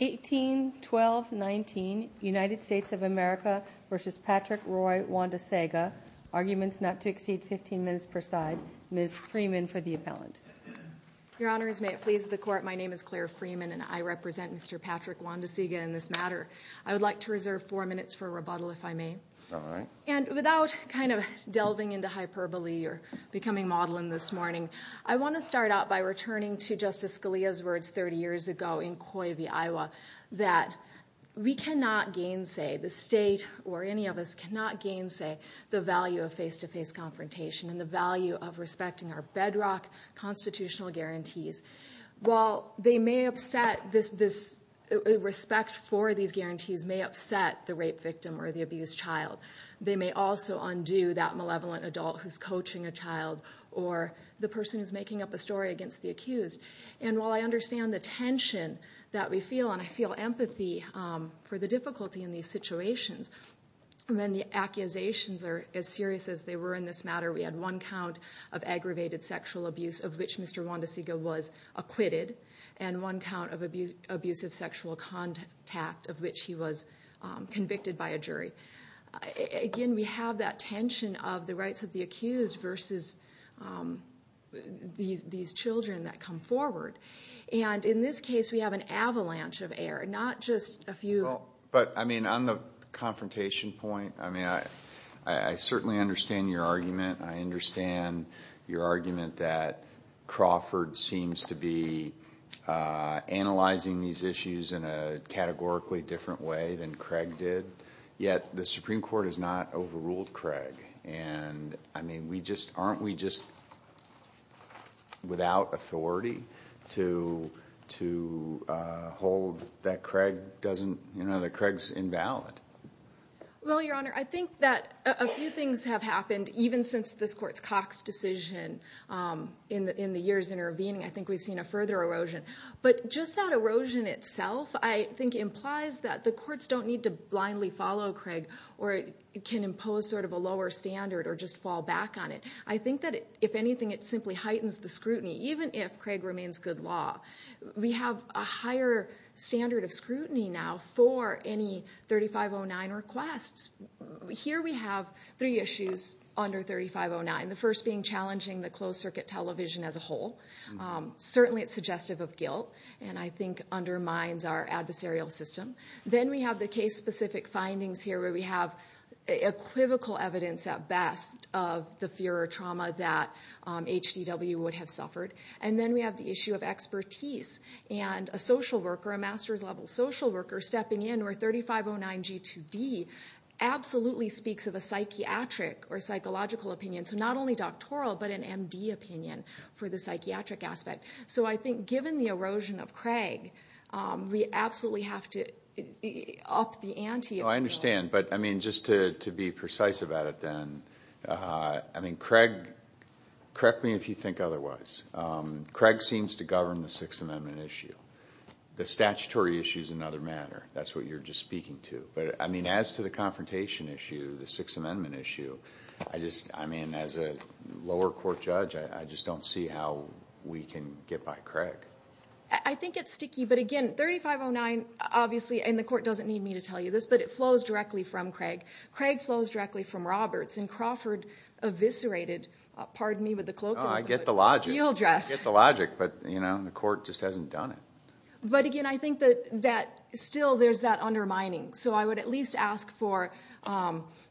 18-12-19 United States of America v. Patrick Roy Wandahsega Arguments not to exceed 15 minutes per side. Ms. Freeman for the appellant. Your Honors, may it please the Court, my name is Claire Freeman and I represent Mr. Patrick Wandahsega in this matter. I would like to reserve four minutes for rebuttal, if I may. All right. And without kind of delving into hyperbole or becoming maudlin this morning, I want to start out by returning to Justice Scalia's words 30 years ago in Coyote, Iowa, that we cannot gainsay, the state or any of us cannot gainsay, the value of face-to-face confrontation and the value of respecting our bedrock constitutional guarantees. While they may upset this, respect for these guarantees may upset the rape victim or the abused child, they may also undo that malevolent adult who's coaching a child or the person who's making up a story against the accused. And while I understand the tension that we feel and I feel empathy for the difficulty in these situations, when the accusations are as serious as they were in this matter, we had one count of aggravated sexual abuse of which Mr. Wandahsega was acquitted and one count of abusive sexual contact of which he was convicted by a jury. Again, we have that tension of the rights of the accused versus these children that come forward. And in this case, we have an avalanche of error, not just a few. But, I mean, on the confrontation point, I mean, I certainly understand your argument. I understand your argument that Crawford seems to be analyzing these issues in a categorically different way than Craig did. But yet the Supreme Court has not overruled Craig. And, I mean, aren't we just without authority to hold that Craig doesn't, you know, that Craig's invalid? Well, Your Honor, I think that a few things have happened even since this Court's Cox decision in the years intervening. I think we've seen a further erosion. But just that erosion itself, I think, implies that the courts don't need to blindly follow Craig or can impose sort of a lower standard or just fall back on it. I think that, if anything, it simply heightens the scrutiny, even if Craig remains good law. We have a higher standard of scrutiny now for any 3509 requests. Here we have three issues under 3509, the first being challenging the closed-circuit television as a whole. Certainly it's suggestive of guilt and I think undermines our adversarial system. Then we have the case-specific findings here where we have equivocal evidence at best of the fear or trauma that HDW would have suffered. And then we have the issue of expertise and a social worker, a master's level social worker, stepping in where 3509G2D absolutely speaks of a psychiatric or psychological opinion. So not only doctoral but an MD opinion for the psychiatric aspect. So I think, given the erosion of Craig, we absolutely have to up the ante. I understand. But, I mean, just to be precise about it then, I mean, Craig, correct me if you think otherwise. Craig seems to govern the Sixth Amendment issue. The statutory issue is another matter. That's what you're just speaking to. But, I mean, as to the confrontation issue, the Sixth Amendment issue, I just, I mean, as a lower court judge, I just don't see how we can get by Craig. I think it's sticky. But, again, 3509, obviously, and the court doesn't need me to tell you this, but it flows directly from Craig. Craig flows directly from Roberts. And Crawford eviscerated, pardon me, but the colloquialism would yieldress. I get the logic. I get the logic. But, you know, the court just hasn't done it. But, again, I think that still there's that undermining. So, I would at least ask for,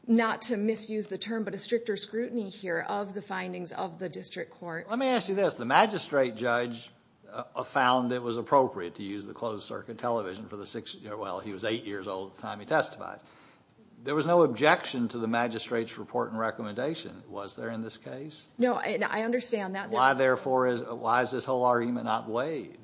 not to misuse the term, but a stricter scrutiny here of the findings of the district court. Let me ask you this. The magistrate judge found it was appropriate to use the closed circuit television for the, well, he was eight years old at the time he testified. There was no objection to the magistrate's report and recommendation, was there in this case? No. I understand that. Why, therefore, is this whole argument not waived?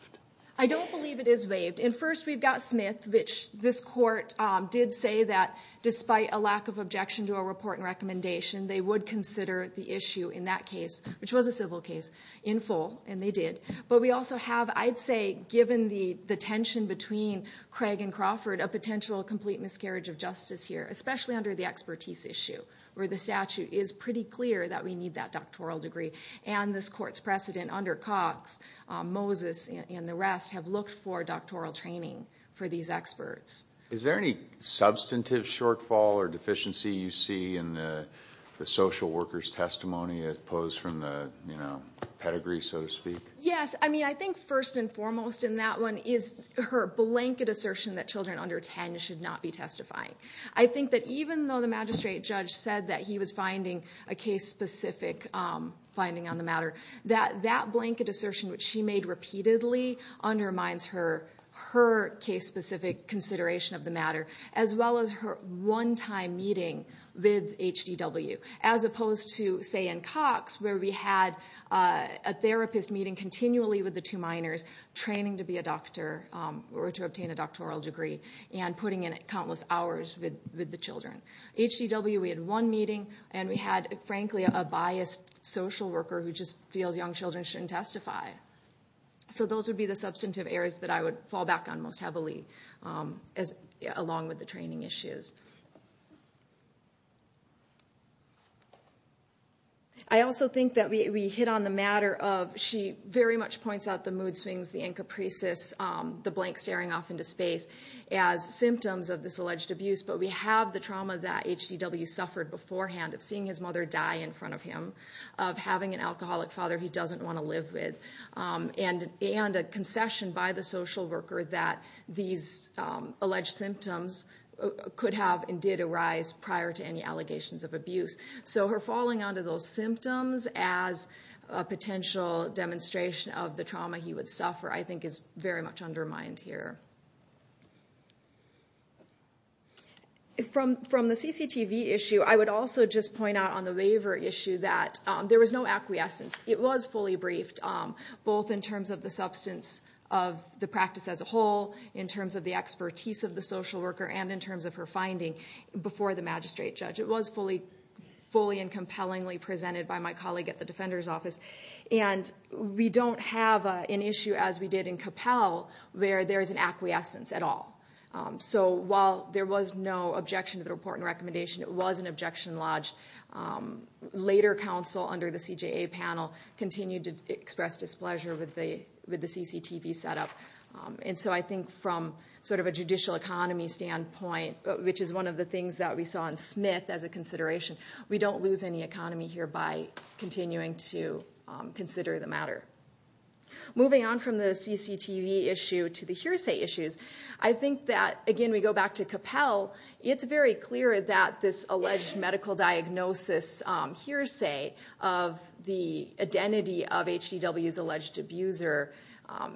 I don't believe it is waived. And, first, we've got Smith, which this court did say that despite a lack of objection to a report and recommendation, they would consider the issue in that case, which was a civil case, in full, and they did. But we also have, I'd say, given the tension between Craig and Crawford, a potential complete miscarriage of justice here, especially under the expertise issue where the statute is pretty clear that we need that doctoral degree. And this court's precedent under Cox, Moses, and the rest have looked for doctoral training for these experts. Is there any substantive shortfall or deficiency you see in the social worker's testimony as opposed from the, you know, pedigree, so to speak? Yes. I mean, I think first and foremost in that one is her blanket assertion that children under 10 should not be testifying. I think that even though the magistrate judge said that he was finding a case-specific finding on the matter, that that blanket assertion, which she made repeatedly, undermines her case-specific consideration of the matter, as well as her one-time meeting with HDW, as opposed to, say, in Cox, where we had a therapist meeting continually with the two minors training to be a doctor or to obtain a doctoral degree and putting in countless hours with the children. HDW, we had one meeting, and we had, frankly, a biased social worker who just feels young children shouldn't testify. So those would be the substantive errors that I would fall back on most heavily, along with the training issues. I also think that we hit on the matter of she very much points out the mood swings, the in capricious, the blank staring off into space as symptoms of this alleged abuse, but we have the trauma that HDW suffered beforehand of seeing his mother die in front of him, of having an alcoholic father he doesn't want to live with, and a concession by the social worker that these alleged symptoms could have and did arise prior to any allegations of abuse. So her falling onto those symptoms as a potential demonstration of the trauma he would suffer, I think, is very much undermined here. From the CCTV issue, I would also just point out on the waiver issue that there was no acquiescence. It was fully briefed, both in terms of the substance of the practice as a whole, in terms of the expertise of the social worker, and in terms of her finding before the magistrate judge. It was fully and compellingly presented by my colleague at the Defender's Office, and we don't have an issue as we did in Capel where there is an acquiescence at all. So while there was no objection to the report and recommendation, it was an objection lodged, later counsel under the CJA panel continued to express displeasure with the CCTV setup. And so I think from sort of a judicial economy standpoint, which is one of the things that we saw in Smith as a consideration, we don't lose any economy here by continuing to consider the matter. Moving on from the CCTV issue to the hearsay issues, I think that, again, we go back to Capel. It's very clear that this alleged medical diagnosis hearsay of the identity of HDW's alleged abuser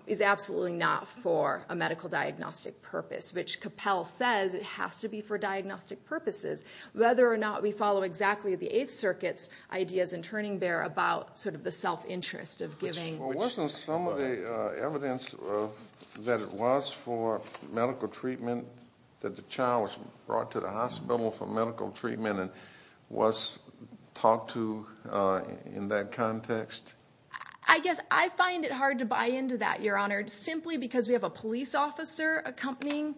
is absolutely not for a medical diagnostic purpose, which Capel says it has to be for diagnostic purposes. Whether or not we follow exactly the Eighth Circuit's ideas in Turning Bear about sort of the self-interest of giving- Well, wasn't some of the evidence that it was for medical treatment, that the child was brought to the hospital for medical treatment and was talked to in that context? I guess I find it hard to buy into that, Your Honor, simply because we have a police officer accompanying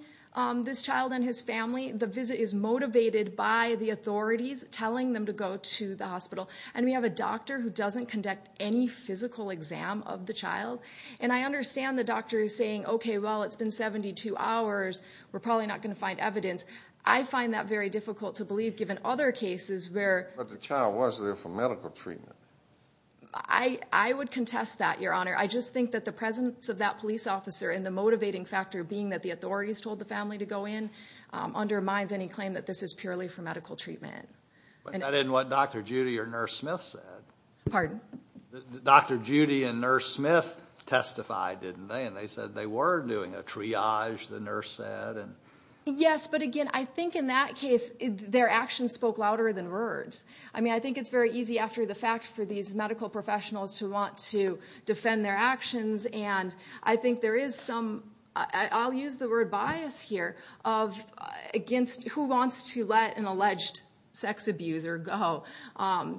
this child and his family. The visit is motivated by the authorities telling them to go to the hospital. And we have a doctor who doesn't conduct any physical exam of the child. And I understand the doctor saying, okay, well, it's been 72 hours. We're probably not going to find evidence. I find that very difficult to believe, given other cases where- But the child was there for medical treatment. I would contest that, Your Honor. I just think that the presence of that police officer and the motivating factor being that the authorities told the family to go in undermines any claim that this is purely for medical treatment. But that isn't what Dr. Judy or Nurse Smith said. Pardon? Dr. Judy and Nurse Smith testified, didn't they? And they said they were doing a triage, the nurse said. Yes, but again, I think in that case their actions spoke louder than words. I mean, I think it's very easy after the fact for these medical professionals to want to defend their actions. And I think there is some, I'll use the word bias here, of against who wants to let an alleged sex abuser go.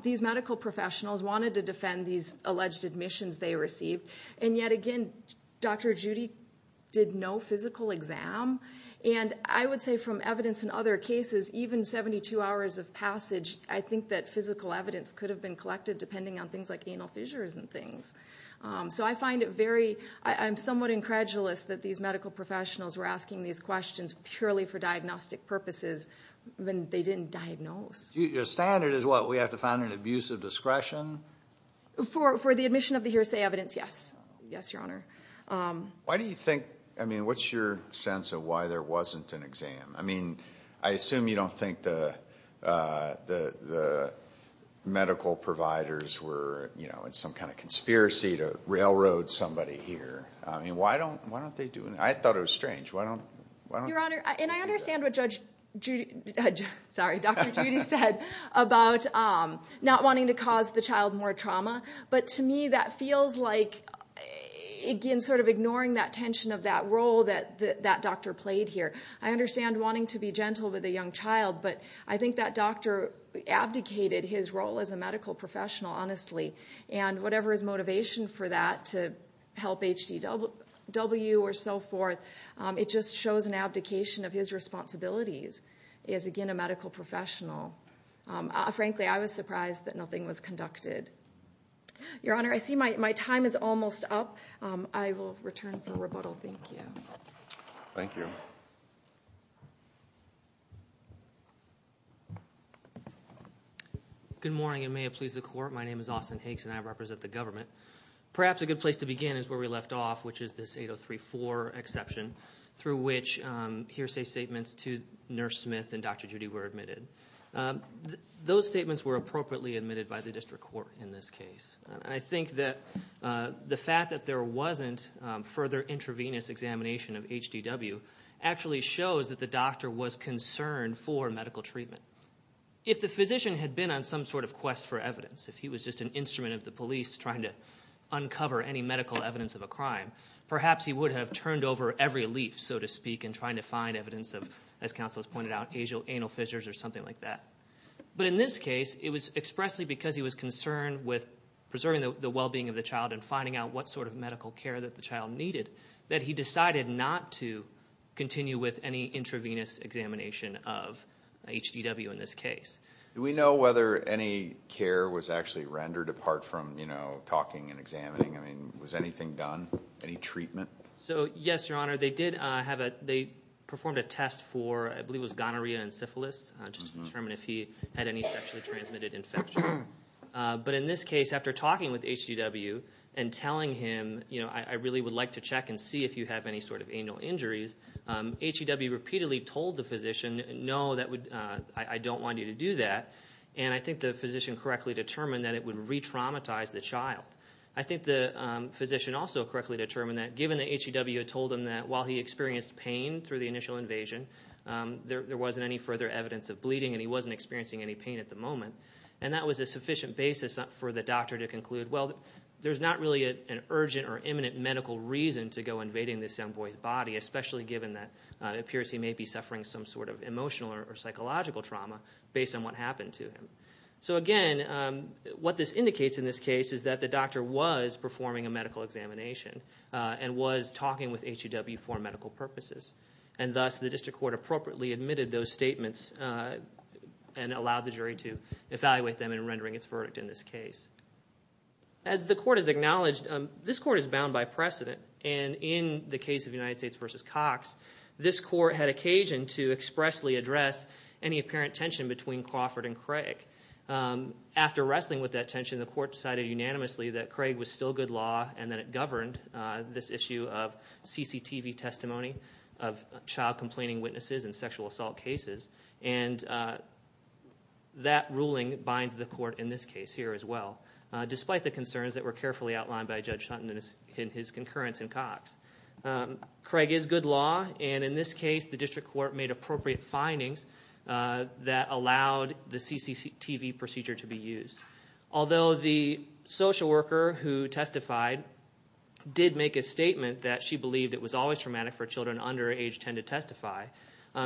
These medical professionals wanted to defend these alleged admissions they received. And yet again, Dr. Judy did no physical exam. And I would say from evidence in other cases, even 72 hours of passage, I think that physical evidence could have been collected depending on things like anal fissures and things. So I find it very, I'm somewhat incredulous that these medical professionals were asking these questions purely for diagnostic purposes when they didn't diagnose. Your standard is what, we have to find an abusive discretion? For the admission of the hearsay evidence, yes. Yes, Your Honor. Why do you think, I mean, what's your sense of why there wasn't an exam? I mean, I assume you don't think the medical providers were in some kind of conspiracy to railroad somebody here. I mean, why don't they do it? I thought it was strange. Your Honor, and I understand what Dr. Judy said about not wanting to cause the child more trauma. But to me that feels like, again, sort of ignoring that tension of that role that that doctor played here. I understand wanting to be gentle with a young child. But I think that doctor abdicated his role as a medical professional, honestly. And whatever his motivation for that, to help HDW or so forth, it just shows an abdication of his responsibilities as, again, a medical professional. Frankly, I was surprised that nothing was conducted. Your Honor, I see my time is almost up. I will return for rebuttal. Thank you. Thank you. Good morning, and may it please the Court. My name is Austin Hakes, and I represent the government. Perhaps a good place to begin is where we left off, which is this 8034 exception, through which hearsay statements to Nurse Smith and Dr. Judy were admitted. Those statements were appropriately admitted by the district court in this case. I think that the fact that there wasn't further intravenous examination of HDW actually shows that the doctor was concerned for medical treatment. If the physician had been on some sort of quest for evidence, if he was just an instrument of the police trying to uncover any medical evidence of a crime, perhaps he would have turned over every leaf, so to speak, in trying to find evidence of, as counsel has pointed out, anal fissures or something like that. But in this case, it was expressly because he was concerned with preserving the well-being of the child and finding out what sort of medical care that the child needed that he decided not to continue with any intravenous examination of HDW in this case. Do we know whether any care was actually rendered, apart from, you know, talking and examining? I mean, was anything done, any treatment? So, yes, Your Honor. They did have a, they performed a test for, I believe it was gonorrhea and syphilis, just to determine if he had any sexually transmitted infections. But in this case, after talking with HDW and telling him, you know, I really would like to check and see if you have any sort of anal injuries, HDW repeatedly told the physician, no, that would, I don't want you to do that. And I think the physician correctly determined that it would re-traumatize the child. I think the physician also correctly determined that, given that HDW had told him that while he experienced pain through the initial invasion, there wasn't any further evidence of bleeding and he wasn't experiencing any pain at the moment. And that was a sufficient basis for the doctor to conclude, well, there's not really an urgent or imminent medical reason to go invading this young boy's body, especially given that it appears he may be suffering some sort of emotional or psychological trauma based on what happened to him. So, again, what this indicates in this case is that the doctor was performing a medical examination and was talking with HDW for medical purposes. And thus, the district court appropriately admitted those statements and allowed the jury to evaluate them in rendering its verdict in this case. As the court has acknowledged, this court is bound by precedent. And in the case of United States v. Cox, this court had occasion to expressly address any apparent tension between Crawford and Craig. After wrestling with that tension, the court decided unanimously that Craig was still good law and that it governed this issue of CCTV testimony of child complaining witnesses and sexual assault cases. And that ruling binds the court in this case here as well, despite the concerns that were carefully outlined by Judge Sutton in his concurrence in Cox. Craig is good law. And in this case, the district court made appropriate findings that allowed the CCTV procedure to be used. Although the social worker who testified did make a statement that she believed it was always traumatic for children under age 10 to testify,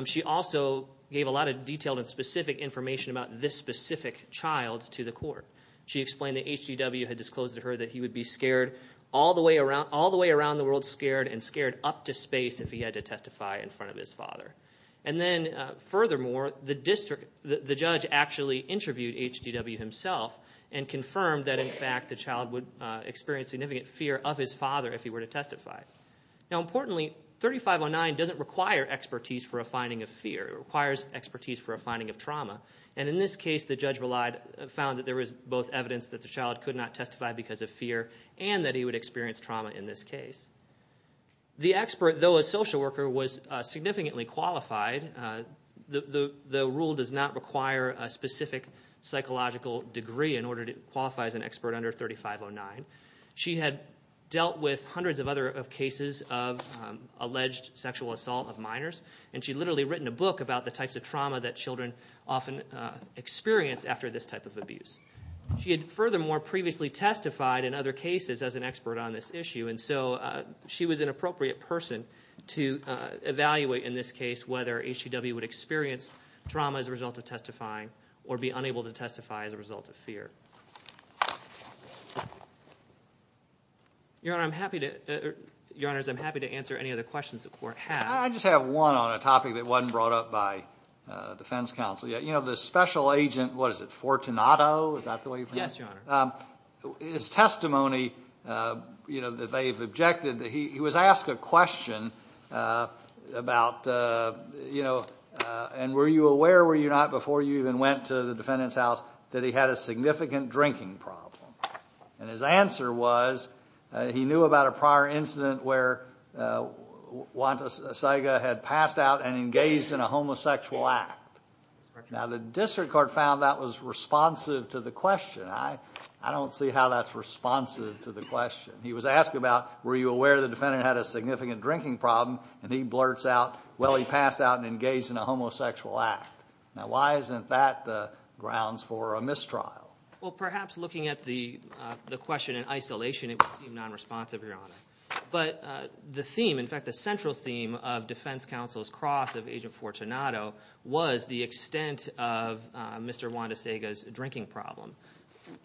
she also gave a lot of detailed and specific information about this specific child to the court. She explained that HDW had disclosed to her that he would be scared all the way around the world, scared and scared up to space if he had to testify in front of his father. And then furthermore, the judge actually interviewed HDW himself and confirmed that in fact the child would experience significant fear of his father if he were to testify. Now importantly, 3509 doesn't require expertise for a finding of fear. It requires expertise for a finding of trauma. And in this case, the judge found that there was both evidence that the child could not testify because of fear and that he would experience trauma in this case. The expert, though a social worker, was significantly qualified. The rule does not require a specific psychological degree in order to qualify as an expert under 3509. She had dealt with hundreds of other cases of alleged sexual assault of minors, and she had literally written a book about the types of trauma that children often experience after this type of abuse. She had furthermore previously testified in other cases as an expert on this issue, and so she was an appropriate person to evaluate in this case whether HDW would experience trauma as a result of testifying or be unable to testify as a result of fear. Your Honor, I'm happy to answer any other questions the Court has. I just have one on a topic that wasn't brought up by defense counsel yet. You know, the special agent, what is it, Fortunato, is that the way you pronounce it? Yes, Your Honor. His testimony, you know, that they've objected, he was asked a question about, you know, and were you aware or were you not before you even went to the defendant's house that he had a significant drinking problem? And his answer was he knew about a prior incident where Wanta Saiga had passed out and engaged in a homosexual act. Now, the district court found that was responsive to the question. I don't see how that's responsive to the question. He was asked about were you aware the defendant had a significant drinking problem, and he blurts out, well, he passed out and engaged in a homosexual act. Now, why isn't that the grounds for a mistrial? Well, perhaps looking at the question in isolation, it would seem nonresponsive, Your Honor. But the theme, in fact, the central theme of defense counsel's cross of Agent Fortunato was the extent of Mr. Wanta Saiga's drinking problem.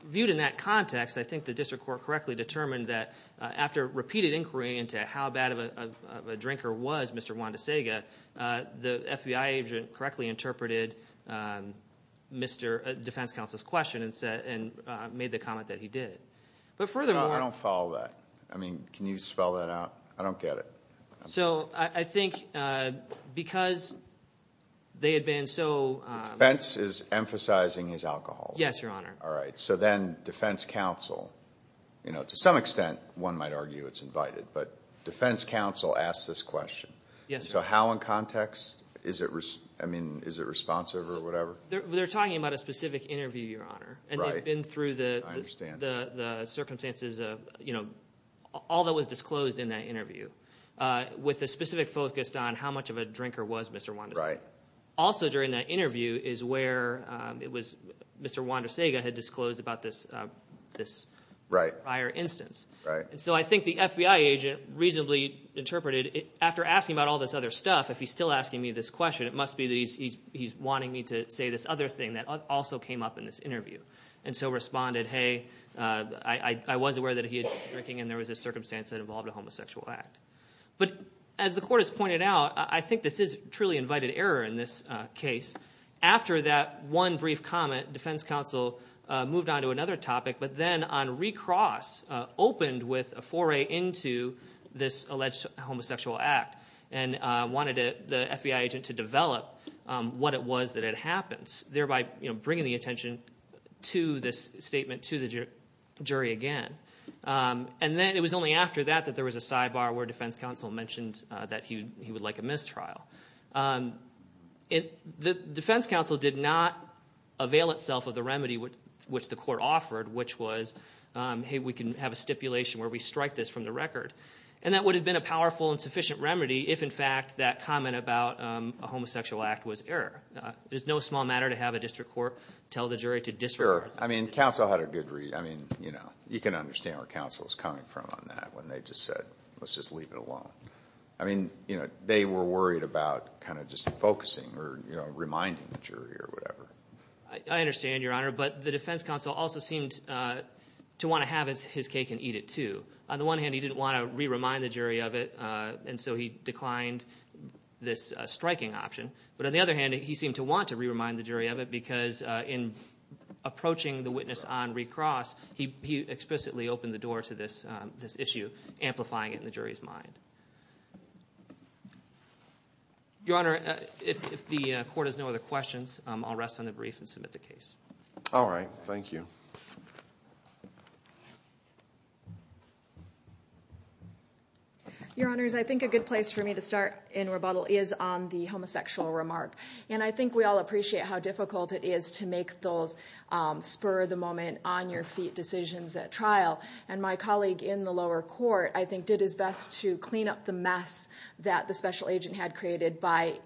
Viewed in that context, I think the district court correctly determined that after repeated inquiry into how bad of a drinker was Mr. Wanta Saiga, the FBI agent correctly interpreted defense counsel's question and made the comment that he did. But furthermore— I don't follow that. I mean, can you spell that out? I don't get it. So I think because they had been so— Defense is emphasizing his alcoholism. Yes, Your Honor. All right. So then defense counsel, you know, to some extent one might argue it's invited, but defense counsel asked this question. So how in context is it responsive or whatever? They're talking about a specific interview, Your Honor. Right. I've been through the circumstances of, you know, all that was disclosed in that interview with a specific focus on how much of a drinker was Mr. Wanta Saiga. Right. Also during that interview is where it was Mr. Wanta Saiga had disclosed about this prior instance. Right. So I think the FBI agent reasonably interpreted after asking about all this other stuff, if he's still asking me this question, it must be that he's wanting me to say this other thing that also came up in this interview. And so responded, hey, I was aware that he had been drinking and there was a circumstance that involved a homosexual act. But as the court has pointed out, I think this is truly invited error in this case. After that one brief comment, defense counsel moved on to another topic, but then on recross opened with a foray into this alleged homosexual act and wanted the FBI agent to develop what it was that had happened, thereby bringing the attention to this statement to the jury again. And then it was only after that that there was a sidebar where defense counsel mentioned that he would like a mistrial. The defense counsel did not avail itself of the remedy which the court offered, which was, hey, we can have a stipulation where we strike this from the record. And that would have been a powerful and sufficient remedy if, in fact, that comment about a homosexual act was error. It is no small matter to have a district court tell the jury to disregard. I mean, counsel had a good reason. I mean, you can understand where counsel is coming from on that when they just said, let's just leave it alone. I mean, they were worried about kind of just focusing or reminding the jury or whatever. I understand, Your Honor, but the defense counsel also seemed to want to have his cake and eat it too. On the one hand, he didn't want to re-remind the jury of it, and so he declined this striking option. But on the other hand, he seemed to want to re-remind the jury of it because in approaching the witness on recross, he explicitly opened the door to this issue, amplifying it in the jury's mind. Your Honor, if the court has no other questions, I'll rest on the brief and submit the case. All right. Thank you. Your Honors, I think a good place for me to start in rebuttal is on the homosexual remark. And I think we all appreciate how difficult it is to make those spur-of-the-moment, on-your-feet decisions at trial. And my colleague in the lower court, I think, did his best to clean up the mess that the special agent had created by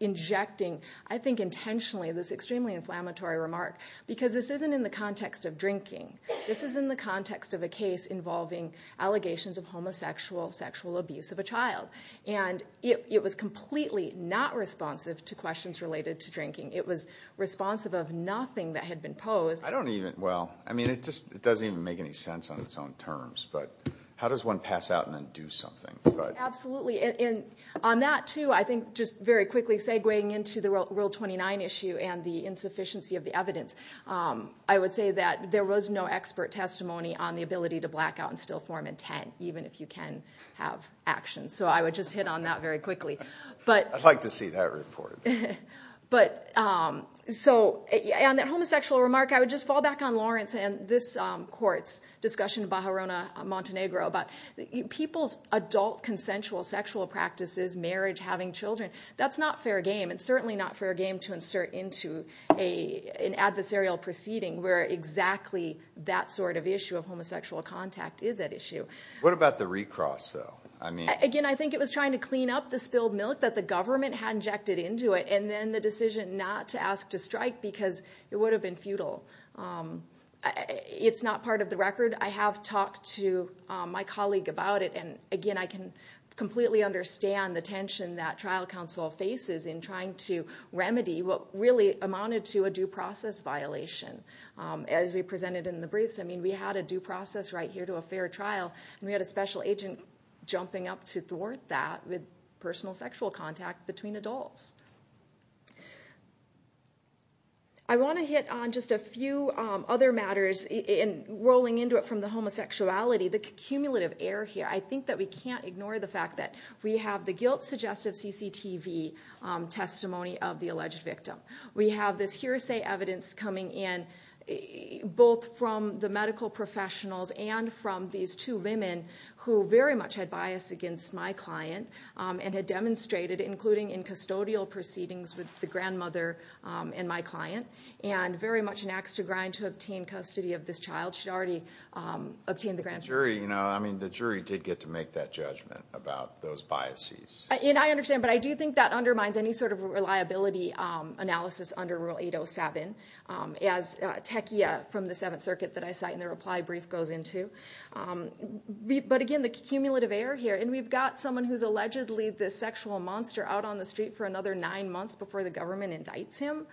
injecting, I think intentionally, this extremely inflammatory remark. Because this isn't in the context of drinking. This is in the context of a case involving allegations of homosexual sexual abuse of a child. And it was completely not responsive to questions related to drinking. It was responsive of nothing that had been posed. I don't even, well, I mean, it just doesn't even make any sense on its own terms. But how does one pass out and then do something? Absolutely. And on that, too, I think just very quickly segueing into the Rule 29 issue and the insufficiency of the evidence, I would say that there was no expert testimony on the ability to black out and still form intent, even if you can have action. So I would just hit on that very quickly. I'd like to see that report. So on that homosexual remark, I would just fall back on Lawrence and this court's discussion of Bajorona Montenegro. But people's adult consensual sexual practices, marriage, having children, that's not fair game. It's certainly not fair game to insert into an adversarial proceeding where exactly that sort of issue of homosexual contact is at issue. What about the recross, though? Again, I think it was trying to clean up the spilled milk that the government had injected into it and then the decision not to ask to strike because it would have been futile. It's not part of the record. I have talked to my colleague about it, and, again, I can completely understand the tension that trial counsel faces in trying to remedy what really amounted to a due process violation. As we presented in the briefs, I mean, we had a due process right here to a fair trial, and we had a special agent jumping up to thwart that with personal sexual contact between adults. I want to hit on just a few other matters in rolling into it from the homosexuality, the cumulative error here. I think that we can't ignore the fact that we have the guilt suggestive CCTV testimony of the alleged victim. We have this hearsay evidence coming in both from the medical professionals and from these two women who very much had bias against my client and had demonstrated, including in custodial proceedings with the grandmother and my client, and very much an axe to grind to obtain custody of this child. She had already obtained the grand jury. The jury did get to make that judgment about those biases. I understand, but I do think that undermines any sort of reliability analysis under Rule 807, as Techia from the Seventh Circuit that I cite in the reply brief goes into. But again, the cumulative error here, and we've got someone who's allegedly the sexual monster out on the street for another nine months before the government indicts him.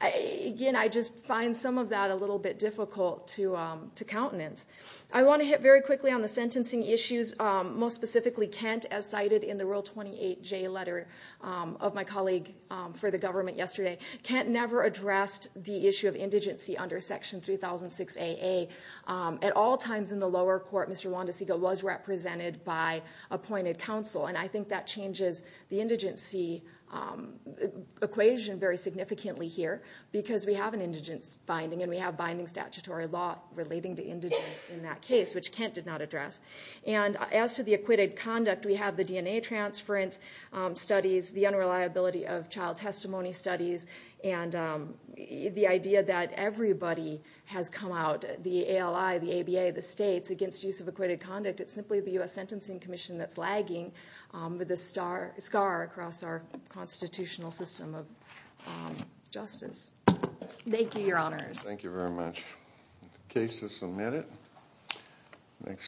Again, I just find some of that a little bit difficult to countenance. I want to hit very quickly on the sentencing issues, most specifically Kent, as cited in the Rule 28J letter of my colleague for the government yesterday. Kent never addressed the issue of indigency under Section 3006AA. At all times in the lower court, Mr. Wondesega was represented by appointed counsel, and I think that changes the indigency equation very significantly here because we have an indigence finding and we have binding statutory law relating to indigence in that case, which Kent did not address. And as to the acquitted conduct, we have the DNA transference studies, the unreliability of child testimony studies, and the idea that everybody has come out, the ALI, the ABA, the states, against use of acquitted conduct. It's simply the U.S. Sentencing Commission that's lagging with a scar across our constitutional system of justice. Thank you, Your Honors. Thank you very much. The case is submitted.